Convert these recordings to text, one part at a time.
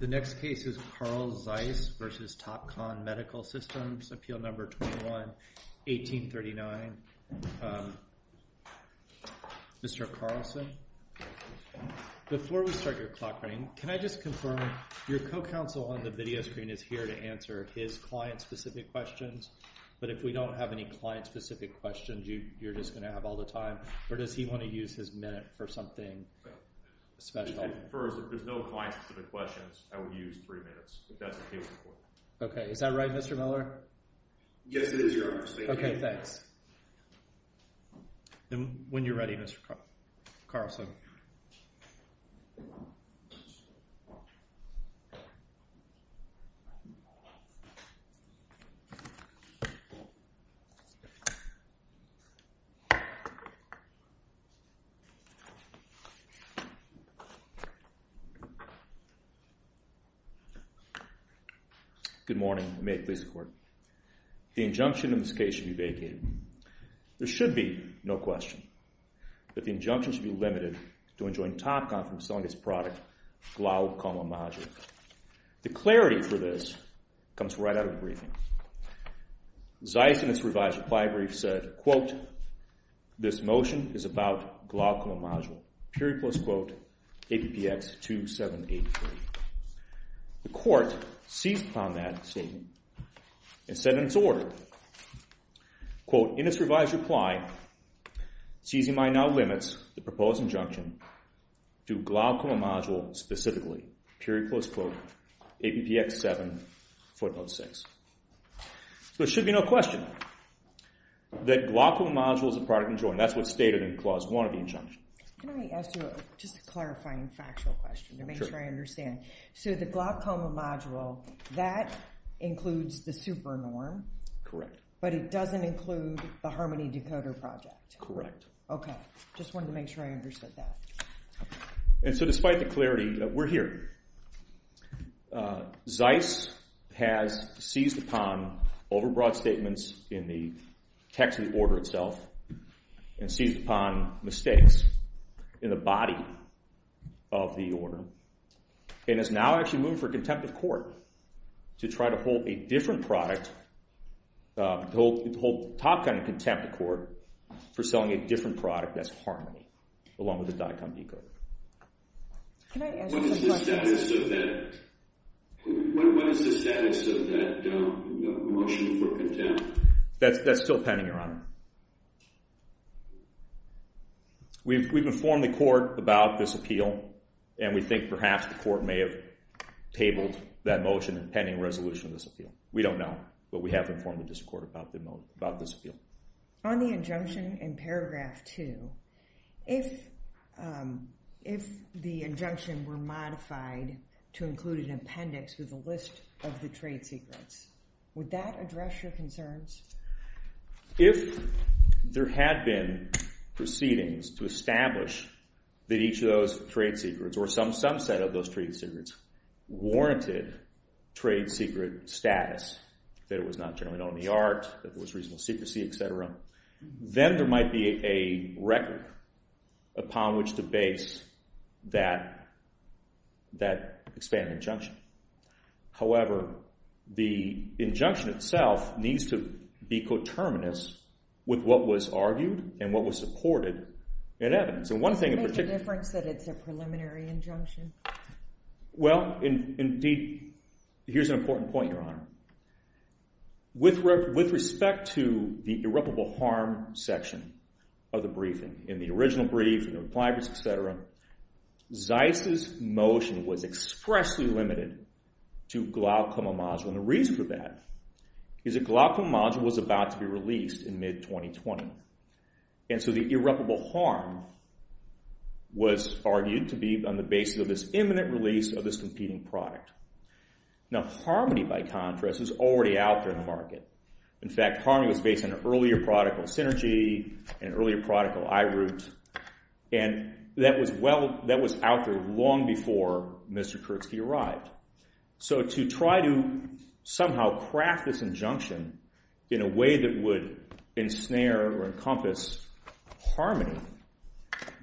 The next case is Carl Zeiss v. Topcon Medical Systems, Appeal Number 21-1839. Mr. Carlson, before we start your clock running, can I just confirm, your co-counsel on the video screen is here to answer his client-specific questions. But if we don't have any client-specific questions, you're just going to have all the time? Or does he want to use his minute for something special? First, if there's no client-specific questions, I would use three minutes, if that's OK with you. OK, is that right, Mr. Miller? Yes, it is, Your Honor. OK, thanks. And when you're ready, Mr. Carlson. Good morning, and may it please the Court. The injunction in this case should be vacated. There should be no question that the injunction should be limited to enjoining Topcon from selling its product, Glaucoma Modulin. The clarity for this comes right out of the briefing. Zeiss, in its revised reply brief, said, quote, this motion is about Glaucoma Modulin, period plus quote, APPX 2783. The Court seized upon that statement and said in its order, quote, in its revised reply, Zeiss and I now limits the proposed injunction to Glaucoma Modulin specifically, period plus quote, APPX 7, footnote 6. So it should be no question that Glaucoma Modulin is a product enjoined. That's what's stated in Clause 1 of the injunction. Can I ask you just a clarifying factual question to make sure I understand? So the Glaucoma Modulin, that includes the super norm. Correct. But it doesn't include the Harmony Decoder Project. Correct. OK, just wanted to make sure I understood that. And so despite the clarity, we're here. Zeiss has seized upon overbroad statements in the text of the order itself, and seized upon mistakes in the body of the order, and has now actually moved for contempt of court to try to hold a different product, to hold top-down contempt of court for selling a different product that's Harmony, along with the DICOM decoder. Can I ask a question? What is the status of that motion for contempt? That's still pending, Your Honor. We've informed the court about this appeal. And we think perhaps the court may have tabled that motion pending resolution of this appeal. We don't know. But we have informed the district court about this appeal. On the injunction in Paragraph 2, if the injunction were modified to include an appendix with a list of the trade secrets, would that address your concerns? If there had been proceedings to establish that each of those trade secrets, or some subset of those trade secrets, warranted trade secret status, that it was not generally known in the art, that there was reasonable secrecy, et cetera, then there might be a record upon which to base that expanded injunction. However, the injunction itself needs to be coterminous with what was argued and what was supported in evidence. And one thing in particular. Does it make a difference that it's a preliminary injunction? Well, indeed, here's an important point, Your Honor. With respect to the irreparable harm section of the briefing, in the original brief, in the reply brief, et cetera, Zeiss's motion was expressly limited to Glaucoma module. And the reason for that is that Glaucoma module was about to be released in mid-2020. And so the irreparable harm was argued to be on the basis of this imminent release of this competing product. Now, Harmony, by contrast, is already out there in the market. In fact, Harmony was based on an earlier product called Synergy, an earlier product called iRoot. And that was out there long before Mr. Kurtzke arrived. So to try to somehow craft this injunction in a way that would ensnare or encompass Harmony,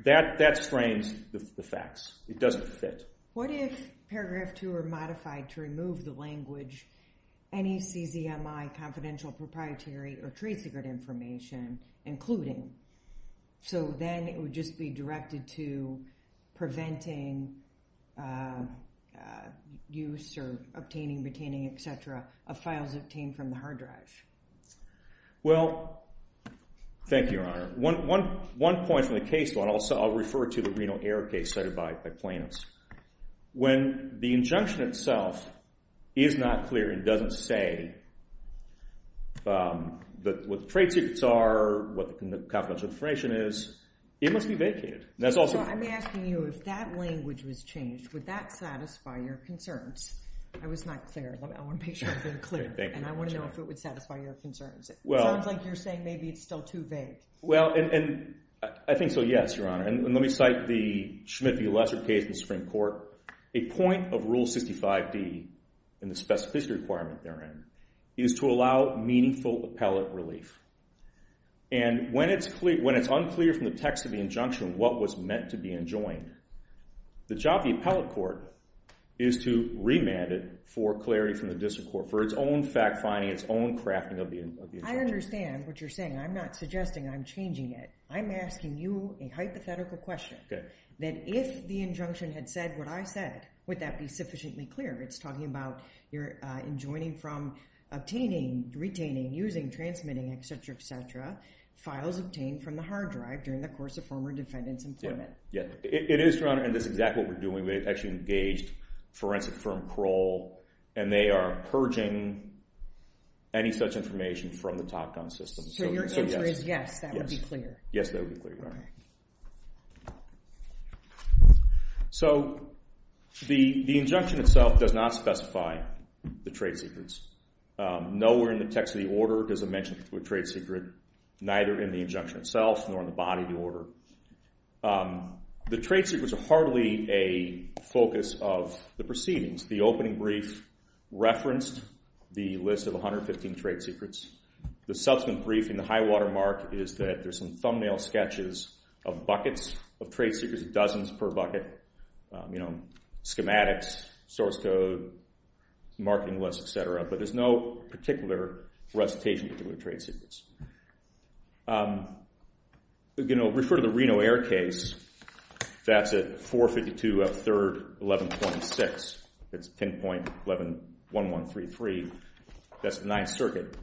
that strains the facts. It doesn't fit. What if paragraph two are modified to remove the language, NECZMI, confidential proprietary or trade secret information, including? So then it would just be directed to preventing use or obtaining, retaining, et cetera, of files obtained from the hard drive. Well, thank you, Your Honor. One point from the case, I'll refer to the Reno Air case cited by plaintiffs. When the injunction itself is not clear and doesn't say what the trade secrets are, what the confidential information is, it must be vacated. That's also. I'm asking you, if that language was changed, would that satisfy your concerns? I was not clear. I want to make sure I'm very clear. And I want to know if it would satisfy your concerns. It sounds like you're saying maybe it's still too vague. Well, and I think so, yes, Your Honor. And let me cite the Schmidt v. Lesser case in the Supreme Court. A point of Rule 65d in the specificity requirement therein is to allow meaningful appellate relief. And when it's unclear from the text of the injunction what was meant to be enjoined, the job of the appellate court is to remand it for clarity from the district court, for its own fact-finding, its own crafting of the injunction. I understand what you're saying. I'm not suggesting I'm changing it. I'm asking you a hypothetical question, that if the injunction had said what I said, would that be sufficiently clear? It's talking about you're enjoining from obtaining, retaining, using, transmitting, et cetera, et cetera, files obtained from the hard drive during the course of former defendant's employment. It is, Your Honor. And that's exactly what we're doing. We've actually engaged forensic firm Parole. And they are purging any such information from the Top Gun system. So your answer is yes, that would be clear. Yes, that would be clear. All right. So the injunction itself does not specify the trade secrets. Nowhere in the text of the order does it mention a trade secret, neither in the injunction itself, nor in the body of the order. The trade secrets are hardly a focus of the proceedings. The opening brief referenced the list of 115 trade secrets. The subsequent brief in the high-water mark is that there's some thumbnail sketches of buckets of trade secrets, dozens per bucket, schematics, source code, marketing lists, et cetera. But there's no particular recitation of the trade secrets. Refer to the Reno Air case. That's at 452 of 3rd 11.6. That's 10.1133. That's the Ninth Circuit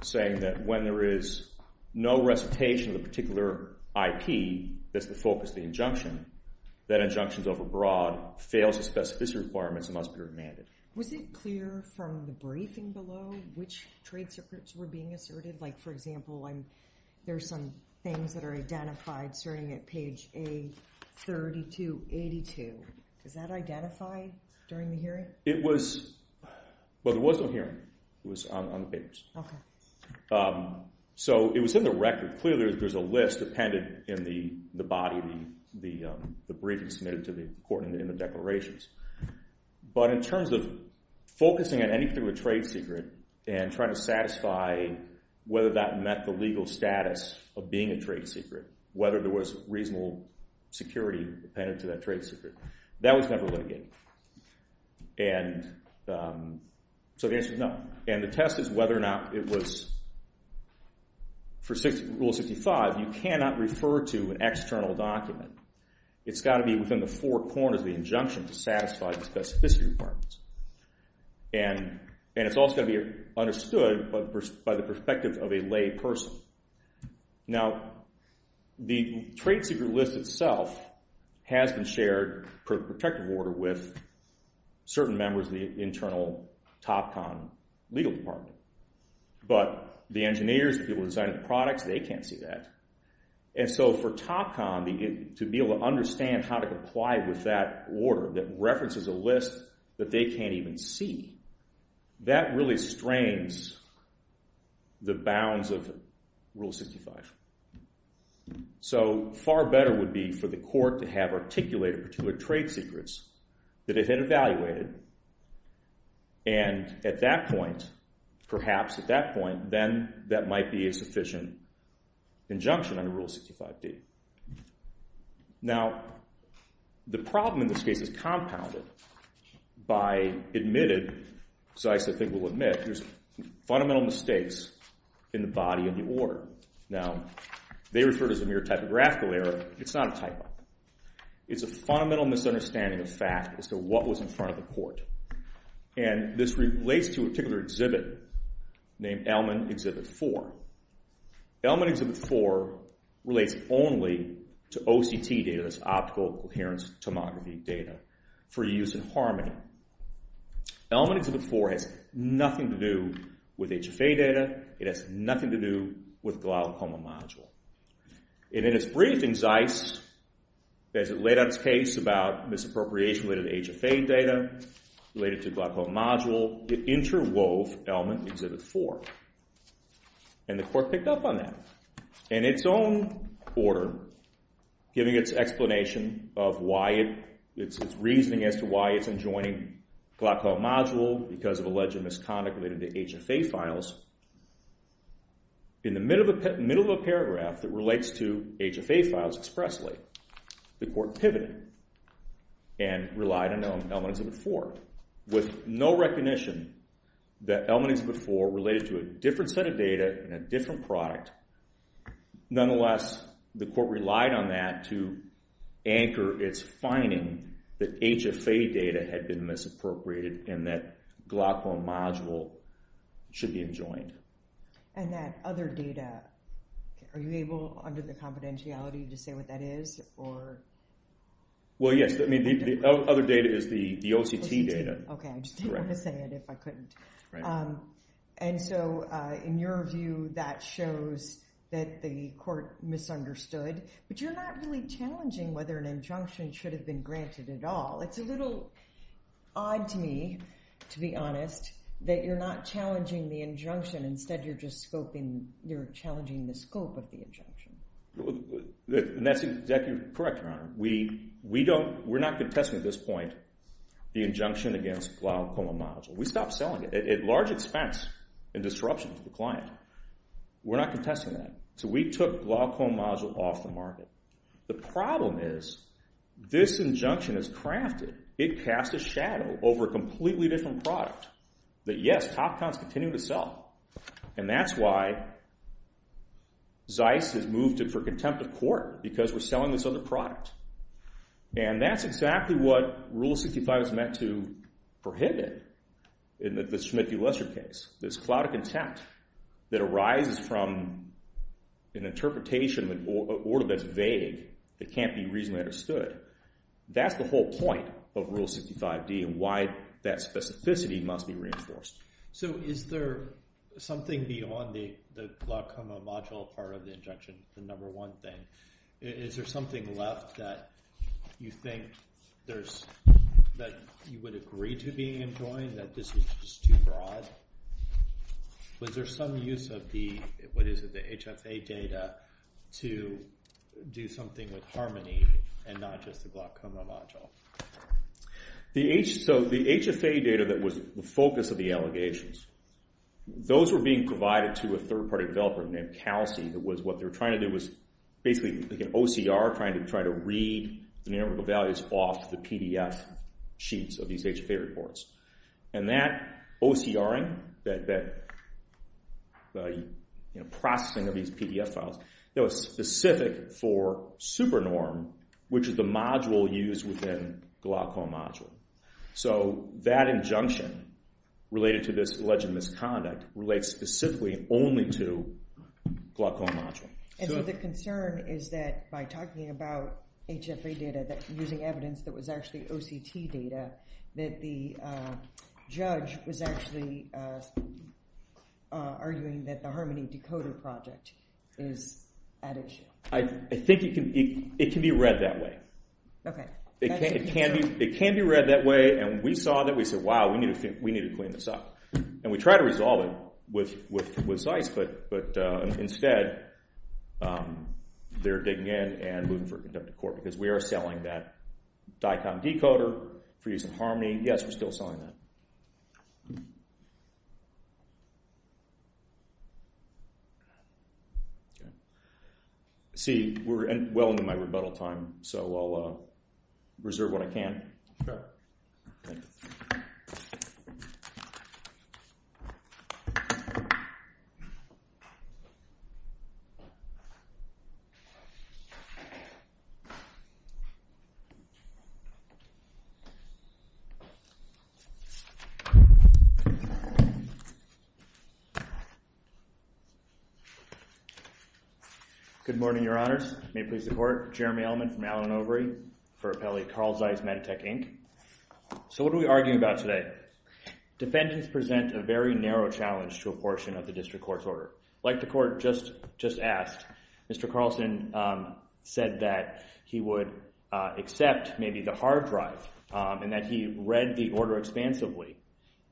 saying that when there is no recitation of a particular IP, that's the focus of the injunction. That injunction's overbroad, fails the specificity requirements, and must be remanded. Was it clear from the briefing below which trade secrets were being asserted? Like, for example, there are some things that are identified starting at page A3282. Does that identify during the hearing? It was. Well, there was no hearing. It was on the papers. So it was in the record. Clearly, there's a list appended in the body of the briefing submitted to the court in the declarations. But in terms of focusing on any particular trade secret and trying to satisfy whether that met the legal status of being a trade secret, whether there was reasonable security appended to that trade secret, that was never litigated. And so the answer is no. And the test is whether or not it was. For Rule 65, you cannot refer to an external document. It's got to be within the four corners of the injunction to satisfy the specificity requirements. And it's also got to be understood by the perspective of a lay person. Now, the trade secret list itself has been shared per protective order with certain members of the internal TopCon legal department. But the engineers, the people who designed the products, they can't see that. And so for TopCon to be able to understand how to comply with that order that references a list that they can't even see, that really strains the bounds of Rule 65. So far better would be for the court to have articulated particular trade secrets that it had evaluated. And at that point, perhaps at that point, then that might be a sufficient injunction under Rule 65d. Now, the problem in this case is compounded by admitted, as I think we'll admit, there's fundamental mistakes in the body of the order. Now, they refer to it as a mere typographical error. It's not a typo. It's a fundamental misunderstanding of fact as to what was in front of the court. And this relates to a particular exhibit named Elman Exhibit 4. Elman Exhibit 4 relates only to OCT data, that's Optical Coherence Tomography data, for use in Harmony. Elman Exhibit 4 has nothing to do with HFA data. It has nothing to do with Glaucoma module. And in its briefing, Zeis, as it laid out its case about misappropriation related to HFA data, related to Glaucoma module, it interwove Elman Exhibit 4. And the court picked up on that. In its own order, giving its explanation of why it's reasoning as to why it's enjoining Glaucoma module because of alleged misconduct related to HFA files, in the middle of a paragraph that relates to HFA files expressly, the court pivoted and relied on Elman Exhibit 4. With no recognition that Elman Exhibit 4 related to a different set of data and a different product, nonetheless, the court relied on that to anchor its finding that HFA data had been misappropriated and that Glaucoma module should be enjoined. And that other data, are you able, under the confidentiality, to say what that is or? Well, yes. I mean, the other data is the OCT data. Okay. I just didn't want to say it if I couldn't. Right. And so, in your view, that shows that the court misunderstood. But you're not really challenging whether an injunction should have been granted at all. It's a little odd to me, to be honest, that you're not challenging the injunction. Instead, you're just scoping, you're challenging the scope of the injunction. And that's exactly correct, Your Honor. We don't, we're not contesting at this point the injunction against Glaucoma module. We stopped selling it at large expense in disruption to the client. We're not contesting that. So, we took Glaucoma module off the market. The problem is, this injunction is crafted, it casts a shadow over a completely different product that, yes, top cons continue to sell. And that's why Zeiss has moved it for contempt of court, because we're selling this other product. And that's exactly what Rule 65 is meant to prohibit in the Schmidt v. Lesser case. This cloud of contempt that arises from an interpretation in an order that's vague, that can't be reasonably understood. That's the whole point of Rule 65D and why that specificity must be reinforced. So, is there something beyond the Glaucoma module part of the injunction, the number one thing? Is there something left that you think there's, that you would agree to being enjoined, that this is just too broad? Was there some use of the, what is it, the HFA data to do something with Harmony and not just the Glaucoma module? So, the HFA data that was the focus of the allegations, those were being provided to a third-party developer named Calci that was, what they were trying to do was basically like an OCR, trying to read the numerical values off the PDF sheets of these HFA reports. And that OCRing, that processing of these PDF files, that was specific for SuperNorm, which is the module used within Glaucoma module. So, that injunction related to this alleged misconduct relates specifically only to Glaucoma module. And so, the concern is that by talking about HFA data, that using evidence that was actually OCT data, that the judge was actually arguing that the Harmony decoder project is at issue. I think it can be read that way. Okay. It can be read that way, and we saw that. We said, wow, we need to clean this up. And we tried to resolve it with ZEISS, but instead they're digging in and looking for a conductive court because we are selling that DICOM decoder for use in Harmony. Yes, we're still selling that. Okay. See, we're well into my rebuttal time, so I'll reserve what I can. Okay. Thank you. Good morning, Your Honors. May it please the court, Jeremy Elman from Allen Overy for appellee Carl Zeiss, Meditech, Inc. So, what are we arguing about today? Defendants present a very narrow challenge to a portion of the district court's order. Like the court just asked, Mr. Carlson said that he would accept maybe the hard drive and that he read the order expansively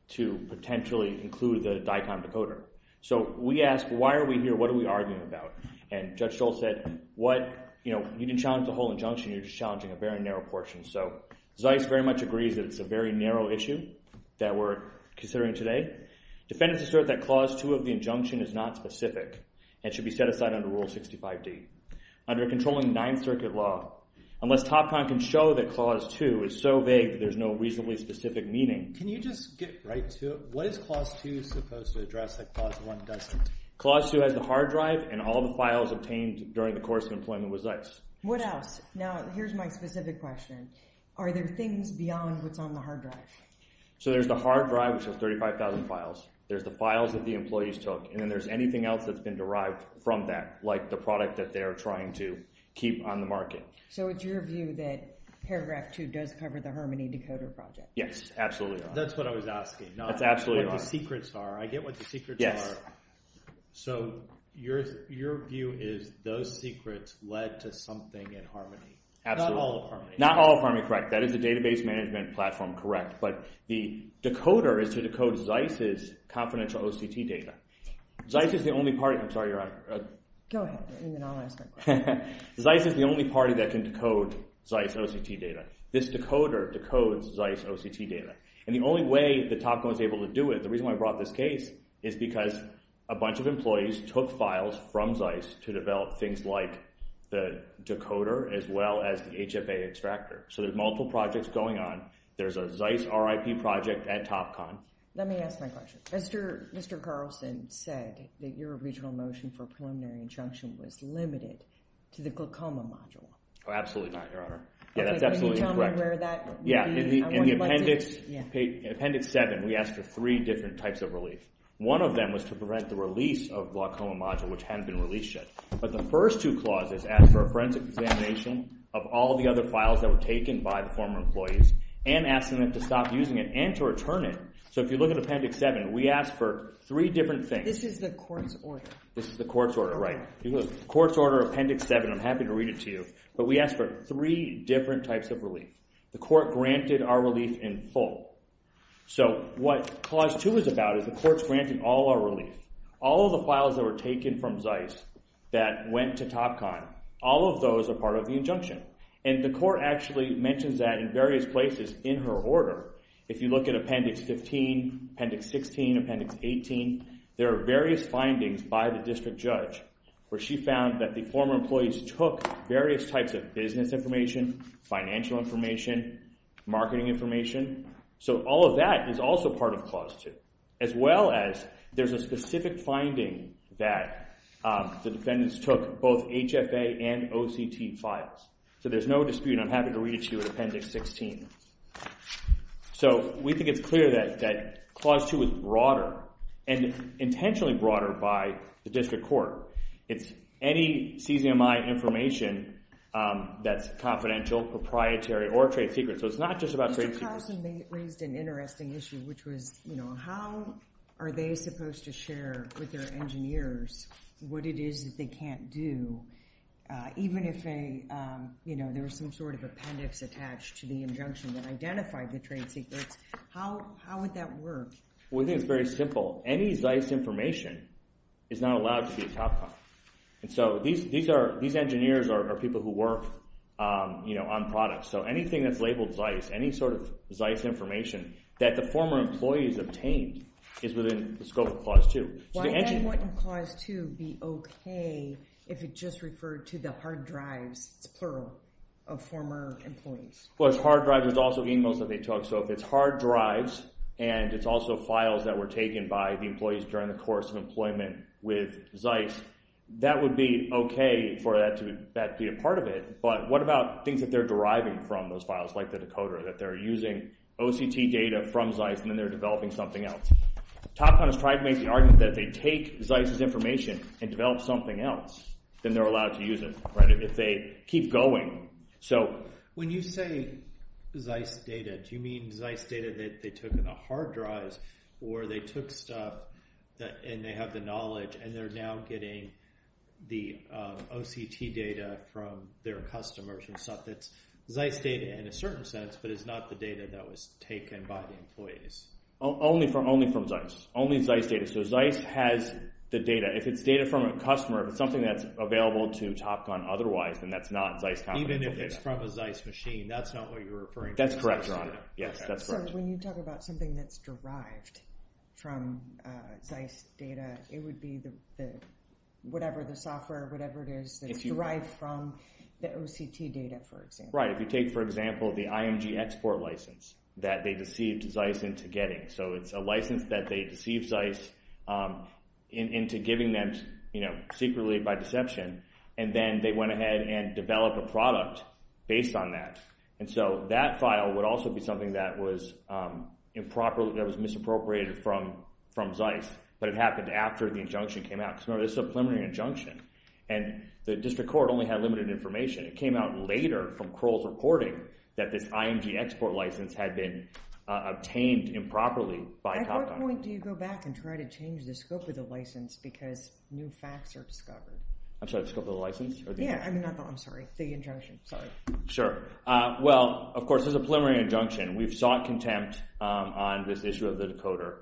to potentially include the DICOM decoder. So, we asked, why are we here? What are we arguing about? And Judge Stoll said, what, you know, you didn't challenge the whole injunction, you're just challenging a very narrow portion. So, Zeiss very much agrees that it's a very narrow issue that we're considering today. Defendants assert that Clause 2 of the injunction is not specific and should be set aside under Rule 65D. Under a controlling Ninth Circuit law, unless TopCon can show that Clause 2 is so vague that there's no reasonably specific meaning. Can you just get right to it? What is Clause 2 supposed to address that Clause 1 doesn't? Clause 2 has the hard drive and all the files obtained during the course of employment with Zeiss. What else? Now, here's my specific question. Are there things beyond what's on the hard drive? So, there's the hard drive, which has 35,000 files. There's the files that the employees took. And then there's anything else that's been derived from that, like the product that they're trying to keep on the market. So, it's your view that Paragraph 2 does cover the Harmony decoder project? Yes, absolutely. That's what I was asking. That's absolutely right. Not what the secrets are. I get what the secrets are. Yes. So, your view is those secrets led to something in Harmony. Absolutely. Not all of Harmony. Not all of Harmony, correct. That is the database management platform, correct. But the decoder is to decode Zeiss's confidential OCT data. Zeiss is the only party... I'm sorry, you're on. Go ahead. I mean, I'll ask my question. Zeiss is the only party that can decode Zeiss OCT data. This decoder decodes Zeiss OCT data. And the only way that TopCon was able to do it, the reason why I brought this case, is because a bunch of employees took files from Zeiss to develop things like the decoder as well as the HFA extractor. So, there's multiple projects going on. There's a Zeiss RIP project at TopCon. Let me ask my question. Mr. Carlson said that your original motion for preliminary injunction was limited to the Glaucoma module. That's absolutely incorrect. Can you tell me where that would be? In Appendix 7, we asked for three different types of relief. One of them was to prevent the release of Glaucoma module, which hadn't been released yet. But the first two clauses asked for a forensic examination of all the other files that were taken by the former employees and asking them to stop using it and to return it. So, if you look at Appendix 7, we asked for three different things. This is the court's order. This is the court's order, right. Court's order, Appendix 7. I'm happy to read it to you. But we asked for three different types of relief. The court granted our relief in full. So, what Clause 2 is about is the court's granting all our relief. All of the files that were taken from Zeiss that went to TopCon, all of those are part of the injunction. And the court actually mentions that in various places in her order. If you look at Appendix 15, Appendix 16, Appendix 18, there are various findings by the district judge where she found that the former employees took various types of business information, financial information, marketing information. So, all of that is also part of Clause 2, as well as there's a specific finding that the defendants took both HFA and OCT files. So, there's no dispute, and I'm happy to read it to you in Appendix 16. So, we think it's clear that Clause 2 is broader and intentionally broader by the district court. It's any CZMI information that's confidential, proprietary, or trade secret. So, it's not just about trade secrets. Mr. Carlson, they raised an interesting issue, which was how are they supposed to share with their engineers what it is that they can't do, even if there was some sort of appendix attached to the injunction that identified the trade secrets. How would that work? We think it's very simple. Any ZEISS information is not allowed to be a top copy. And so, these engineers are people who work on products. So, anything that's labeled ZEISS, any sort of ZEISS information that the former employees obtained is within the scope of Clause 2. Why then wouldn't Clause 2 be okay if it just referred to the hard drives, it's plural, of former employees? Well, it's hard drives. It's also emails that they took. So, if it's hard drives and it's also files that were taken by the employees during the course of employment with ZEISS, that would be okay for that to be a part of it. But what about things that they're deriving from those files, like the decoder, that they're using OCT data from ZEISS and then they're developing something else? TopCon has tried to make the argument that if they take ZEISS' information and develop something else, then they're allowed to use it, if they keep going. When you say ZEISS data, do you mean ZEISS data that they took in the hard drives or they took stuff and they have the knowledge and they're now getting the OCT data from their customers and stuff that's ZEISS data in a certain sense, but it's not the data that was taken by the employees? Only from ZEISS. Only ZEISS data. So, ZEISS has the data. If it's data from a customer, if it's something that's available to TopCon otherwise, then that's not ZEISS confidential data. Even if it's from a ZEISS machine, that's not what you're referring to? That's correct, Your Honor. Yes, that's correct. So when you talk about something that's derived from ZEISS data, it would be whatever the software, whatever it is, that's derived from the OCT data, for example. Right. If you take, for example, the IMG export license that they deceived ZEISS into getting. So it's a license that they deceived ZEISS into giving them secretly by deception, and then they went ahead and developed a product based on that. And so that file would also be something that was improper, that was misappropriated from ZEISS, but it happened after the injunction came out. Because remember, this is a preliminary injunction, and the district court only had limited information. It came out later from Crowell's reporting that this IMG export license had been obtained improperly by TopCon. At what point do you go back and try to change the scope of the license because new facts are discovered? I'm sorry, the scope of the license? Yeah, I'm sorry, the injunction. Sorry. Sure. Well, of course, this is a preliminary injunction. We've sought contempt on this issue of the decoder.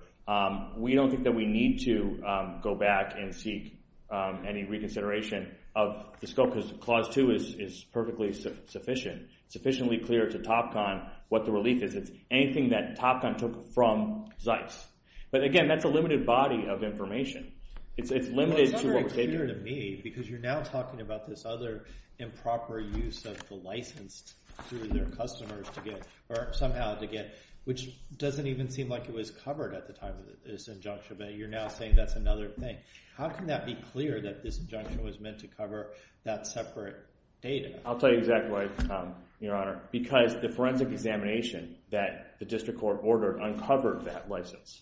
We don't think that we need to go back and seek any reconsideration of the scope because Clause 2 is perfectly sufficient. It's sufficiently clear to TopCon what the relief is. It's anything that TopCon took from ZEISS. But again, that's a limited body of information. Well, it's not very clear to me because you're now talking about this other improper use of the license through their customers to get, or somehow to get, which doesn't even seem like it was covered at the time of this injunction. But you're now saying that's another thing. How can that be clear that this injunction was meant to cover that separate data? I'll tell you exactly why, Your Honor, because the forensic examination that the district court ordered uncovered that license.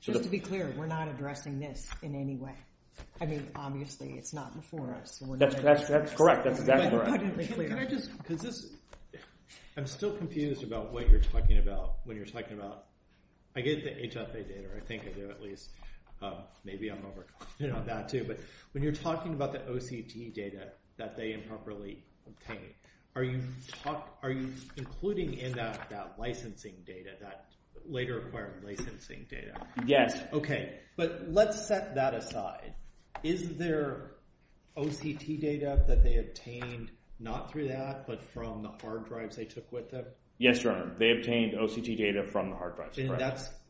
Just to be clear, we're not addressing this in any way. I mean, obviously, it's not before us. That's correct. That's exactly right. I'm still confused about what you're talking about when you're talking about I get the HFA data, or I think I do at least. Maybe I'm overconfident on that too. But when you're talking about the OCT data that they improperly obtained, are you including in that that licensing data, that later acquired licensing data? Yes. Okay. But let's set that aside. Is there OCT data that they obtained not through that but from the hard drives they took with them? Yes, Your Honor. They obtained OCT data from the hard drives.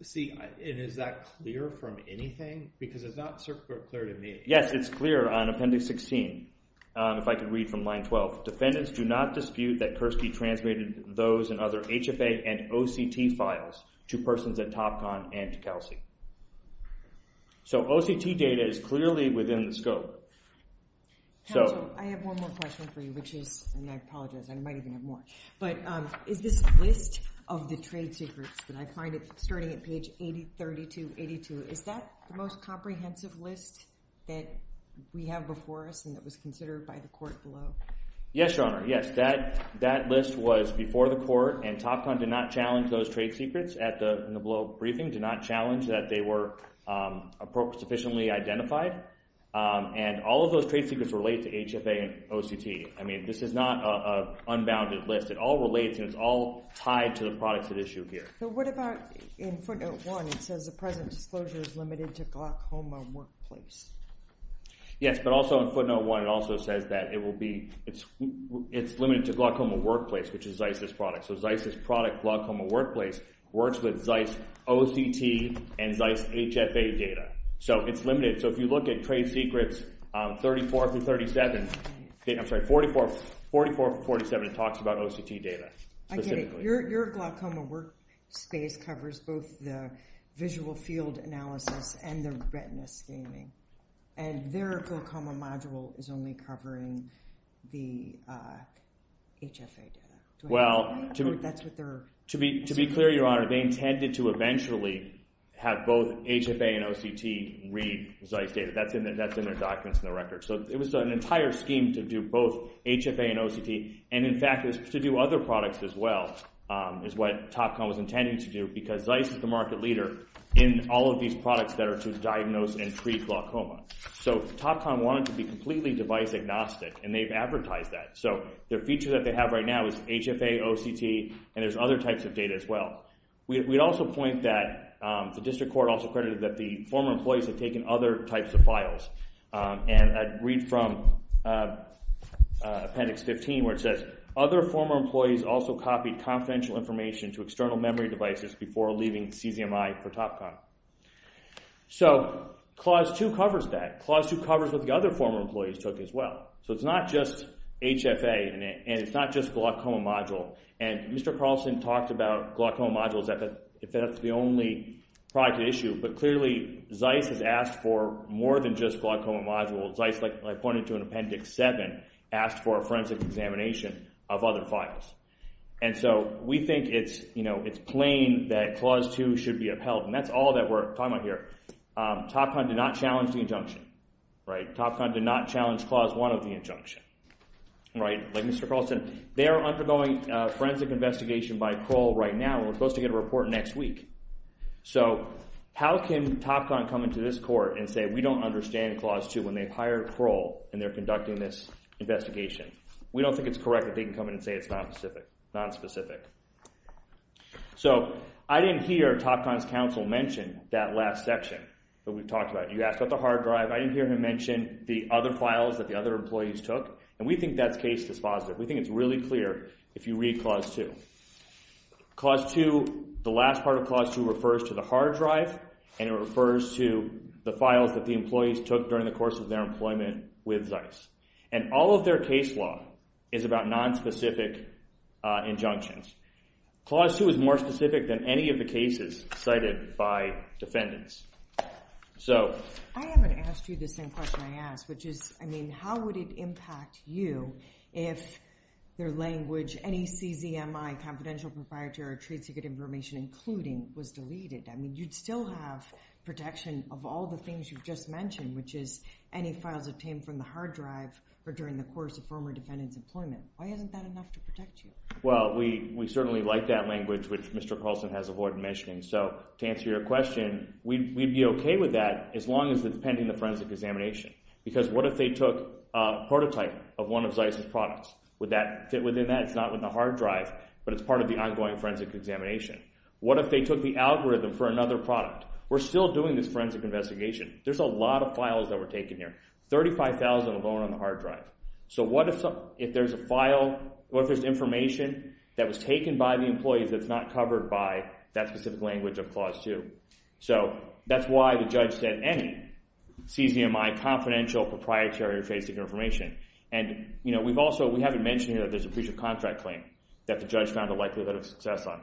See, and is that clear from anything? Because it's not circular clear to me. Yes, it's clear on Appendix 16. If I could read from Line 12. Defendants do not dispute that Kurski transmitted those and other HFA and OCT files to persons at TopCon and to Kelsey. So OCT data is clearly within the scope. Counsel, I have one more question for you, which is, and I apologize, I might even have more, but is this list of the trade secrets that I find starting at page 80, 32, 82, is that the most comprehensive list that we have before us and that was considered by the court below? Yes, Your Honor. Yes, that list was before the court and TopCon did not challenge those trade secrets in the below briefing, did not challenge that they were sufficiently identified. And all of those trade secrets relate to HFA and OCT. I mean, this is not an unbounded list. It all relates and it's all tied to the products at issue here. But what about in Footnote 1, it says, the present disclosure is limited to Glock Home and Workplace. Yes, but also in Footnote 1, it also says that it will be, it's limited to Glock Home and Workplace, which is ZEIS's product. So ZEIS's product, Glock Home and Workplace, works with ZEIS OCT and ZEIS HFA data. So it's limited. So if you look at trade secrets 34 through 37, I'm sorry, 44, 44 through 47, it talks about OCT data. I get it. Your Glock Home and Workspace covers both the visual field analysis and the retina scanning. And their Glock Home module is only covering the HFA data. Well, to be clear, Your Honor, they intended to eventually have both HFA and OCT read ZEIS data. That's in their documents and their records. So it was an entire scheme to do both HFA and OCT. And, in fact, to do other products as well, is what TopCon was intending to do because ZEIS is the market leader in all of these products that are to diagnose and treat glaucoma. So TopCon wanted to be completely device agnostic, and they've advertised that. So the feature that they have right now is HFA, OCT, and there's other types of data as well. We'd also point that the district court also credited that the former employees had taken other types of files. And I'd read from Appendix 15 where it says, Other former employees also copied confidential information to external memory devices before leaving CZMI for TopCon. So Clause 2 covers that. Clause 2 covers what the other former employees took as well. So it's not just HFA, and it's not just glaucoma module. And Mr. Carlson talked about glaucoma modules, if that's the only product at issue, but clearly ZEIS has asked for more than just glaucoma modules. ZEIS, like I pointed to in Appendix 7, asked for a forensic examination of other files. And so we think it's plain that Clause 2 should be upheld, and that's all that we're talking about here. TopCon did not challenge the injunction. TopCon did not challenge Clause 1 of the injunction. Like Mr. Carlson, they are undergoing a forensic investigation by Kroll right now, and we're supposed to get a report next week. So how can TopCon come into this court and say we don't understand Clause 2 when they've hired Kroll and they're conducting this investigation? We don't think it's correct that they can come in and say it's nonspecific. So I didn't hear TopCon's counsel mention that last section that we talked about. You asked about the hard drive. I didn't hear him mention the other files that the other employees took, and we think that case is positive. We think it's really clear if you read Clause 2. Clause 2, the last part of Clause 2, refers to the hard drive, and it refers to the files that the employees took during the course of their employment with ZEIS. And all of their case law is about nonspecific injunctions. Clause 2 is more specific than any of the cases cited by defendants. I haven't asked you the same question I asked, which is, I mean, how would it impact you if their language, any CZMI, confidential proprietary trade secret information, including, was deleted? I mean, you'd still have protection of all the things you've just mentioned, which is any files obtained from the hard drive or during the course of former defendant's employment. Why isn't that enough to protect you? Well, we certainly like that language, which Mr. Carlson has avoided mentioning. So to answer your question, we'd be okay with that as long as it's pending the forensic examination, because what if they took a prototype of one of ZEIS's products? Would that fit within that? It's not within the hard drive, but it's part of the ongoing forensic examination. What if they took the algorithm for another product? We're still doing this forensic investigation. There's a lot of files that were taken here, 35,000 alone on the hard drive. So what if there's information that was taken by the employees that's not covered by that specific language of Clause 2? So that's why the judge said any CZMI confidential proprietary trade secret information. And we haven't mentioned here that there's a breach of contract claim that the judge found a likelihood of success on.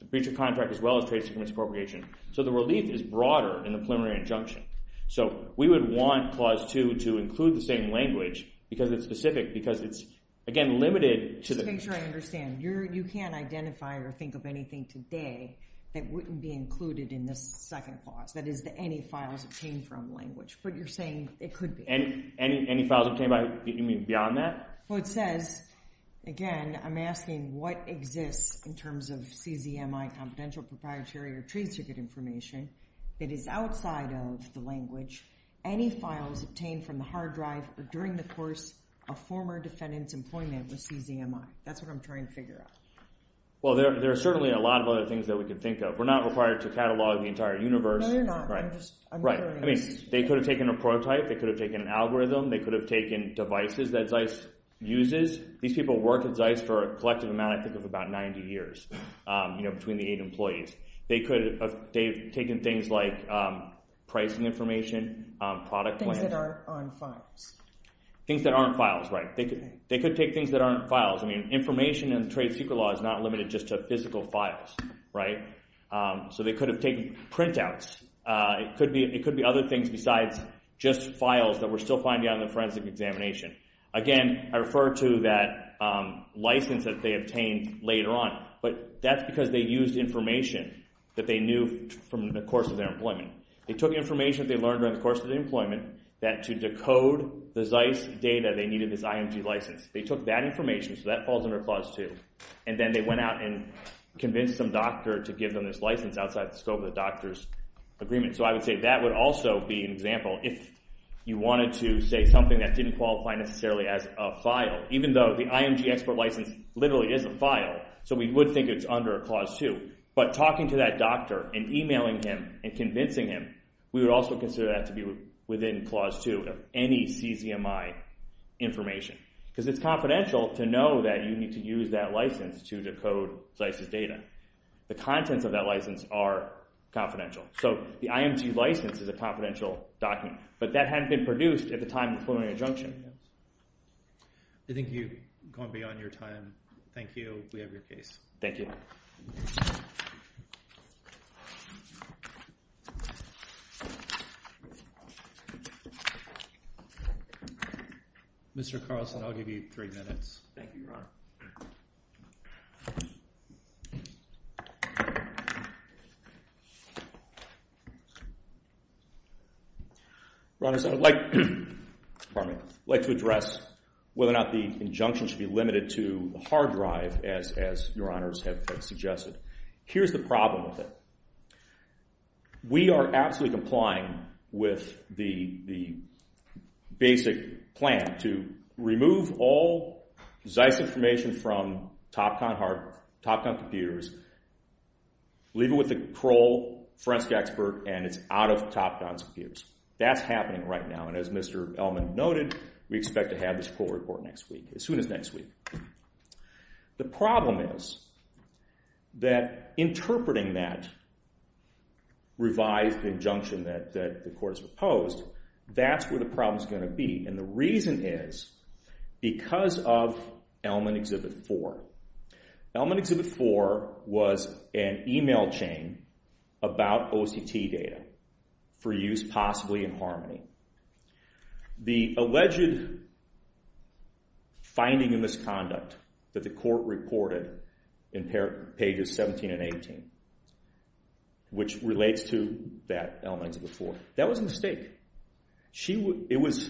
The breach of contract as well as trade secret misappropriation. So the relief is broader in the preliminary injunction. So we would want Clause 2 to include the same language because it's specific, because it's, again, limited to the- Just to make sure I understand, you can't identify or think of anything today that wouldn't be included in this second clause, that is the any files obtained from language. But you're saying it could be. Any files obtained by, you mean beyond that? Well, it says, again, I'm asking what exists in terms of CZMI confidential proprietary or trade secret information that is outside of the language. Any files obtained from the hard drive or during the course of former defendant's employment with CZMI. That's what I'm trying to figure out. Well, there are certainly a lot of other things that we could think of. We're not required to catalog the entire universe. No, you're not. I'm just- Right. I mean, they could have taken a prototype. They could have taken an algorithm. They could have taken devices that ZEISS uses. These people worked at ZEISS for a collective amount, I think, of about 90 years, between the eight employees. They could have taken things like pricing information, product- Things that aren't files. Things that aren't files, right. They could take things that aren't files. I mean, information in the trade secret law is not limited just to physical files, right? So they could have taken printouts. It could be other things besides just files that we're still finding out in the forensic examination. Again, I refer to that license that they obtained later on. But that's because they used information that they knew from the course of their employment. They took information that they learned during the course of their employment that to decode the ZEISS data, they needed this IMG license. They took that information, so that falls under Clause 2, and then they went out and convinced some doctor to give them this license outside the scope of the doctor's agreement. So I would say that would also be an example if you wanted to say something that didn't qualify necessarily as a file, even though the IMG export license literally is a file. So we would think it's under Clause 2. But talking to that doctor and emailing him and convincing him, we would also consider that to be within Clause 2 of any CCMI information because it's confidential to know that you need to use that license to decode ZEISS's data. The contents of that license are confidential. So the IMG license is a confidential document. But that hadn't been produced at the time of the preliminary injunction. I think you've gone beyond your time. Thank you. We have your case. Thank you. Mr. Carlson, I'll give you three minutes. Thank you, Your Honor. Your Honor, I'd like to address whether or not the injunction should be limited to a hard drive as Your Honors have suggested. Here's the problem with it. We are absolutely complying with the basic plan to remove all ZEISS information from TopCon computers, leave it with the parole forensic expert, and it's out of TopCon's computers. That's happening right now. And as Mr. Ellman noted, we expect to have this parole report next week, as soon as next week. The problem is that interpreting that revised injunction that the court has proposed, that's where the problem is going to be. And the reason is because of Ellman Exhibit 4. Ellman Exhibit 4 was an email chain about OCT data for use possibly in Harmony. The alleged finding of misconduct that the court reported in pages 17 and 18, which relates to that Ellman Exhibit 4, that was a mistake. It was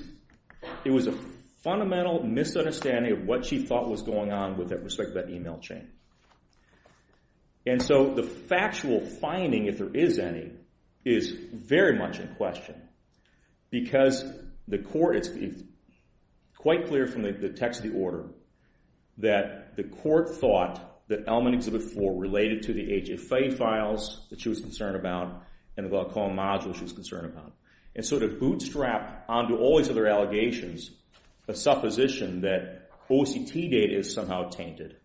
a fundamental misunderstanding of what she thought was going on with respect to that email chain. And so the factual finding, if there is any, is very much in question. Because the court – it's quite clear from the text of the order that the court thought that Ellman Exhibit 4 related to the HFA files that she was concerned about and the Qualcomm module she was concerned about. And so to bootstrap onto all these other allegations a supposition that OCT data is somehow tainted.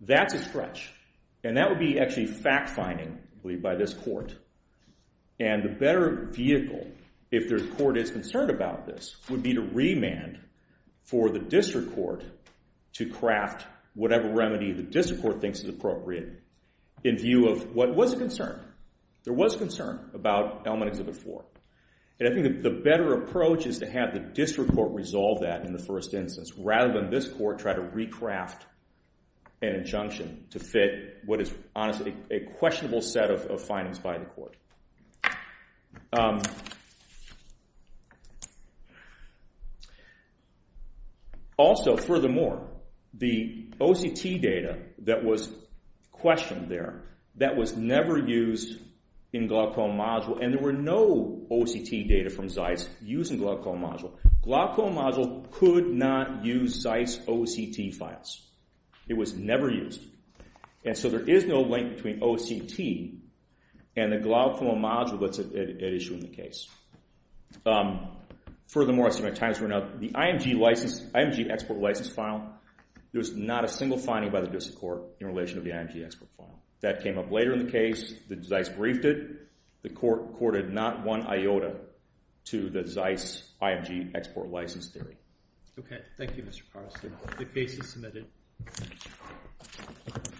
That's a stretch. And that would be actually fact-finding, I believe, by this court. And the better vehicle, if the court is concerned about this, would be to remand for the district court to craft whatever remedy the district court thinks is appropriate in view of what was a concern. There was concern about Ellman Exhibit 4. And I think the better approach is to have the district court resolve that in the first instance rather than this court try to recraft an injunction to fit what is honestly a questionable set of findings by the court. Also, furthermore, the OCT data that was questioned there, that was never used in Qualcomm module. And there were no OCT data from ZEISS using Qualcomm module. Qualcomm module could not use ZEISS OCT files. It was never used. And so there is no link between OCT and the Qualcomm module that's at issue in the case. Furthermore, I see my time is running out. The IMG export license file, there was not a single finding by the district court in relation to the IMG export file. That came up later in the case. The ZEISS briefed it. The court courted not one iota to the ZEISS IMG export license theory. Okay. Thank you, Mr. Carsten. The case is submitted. Thank you.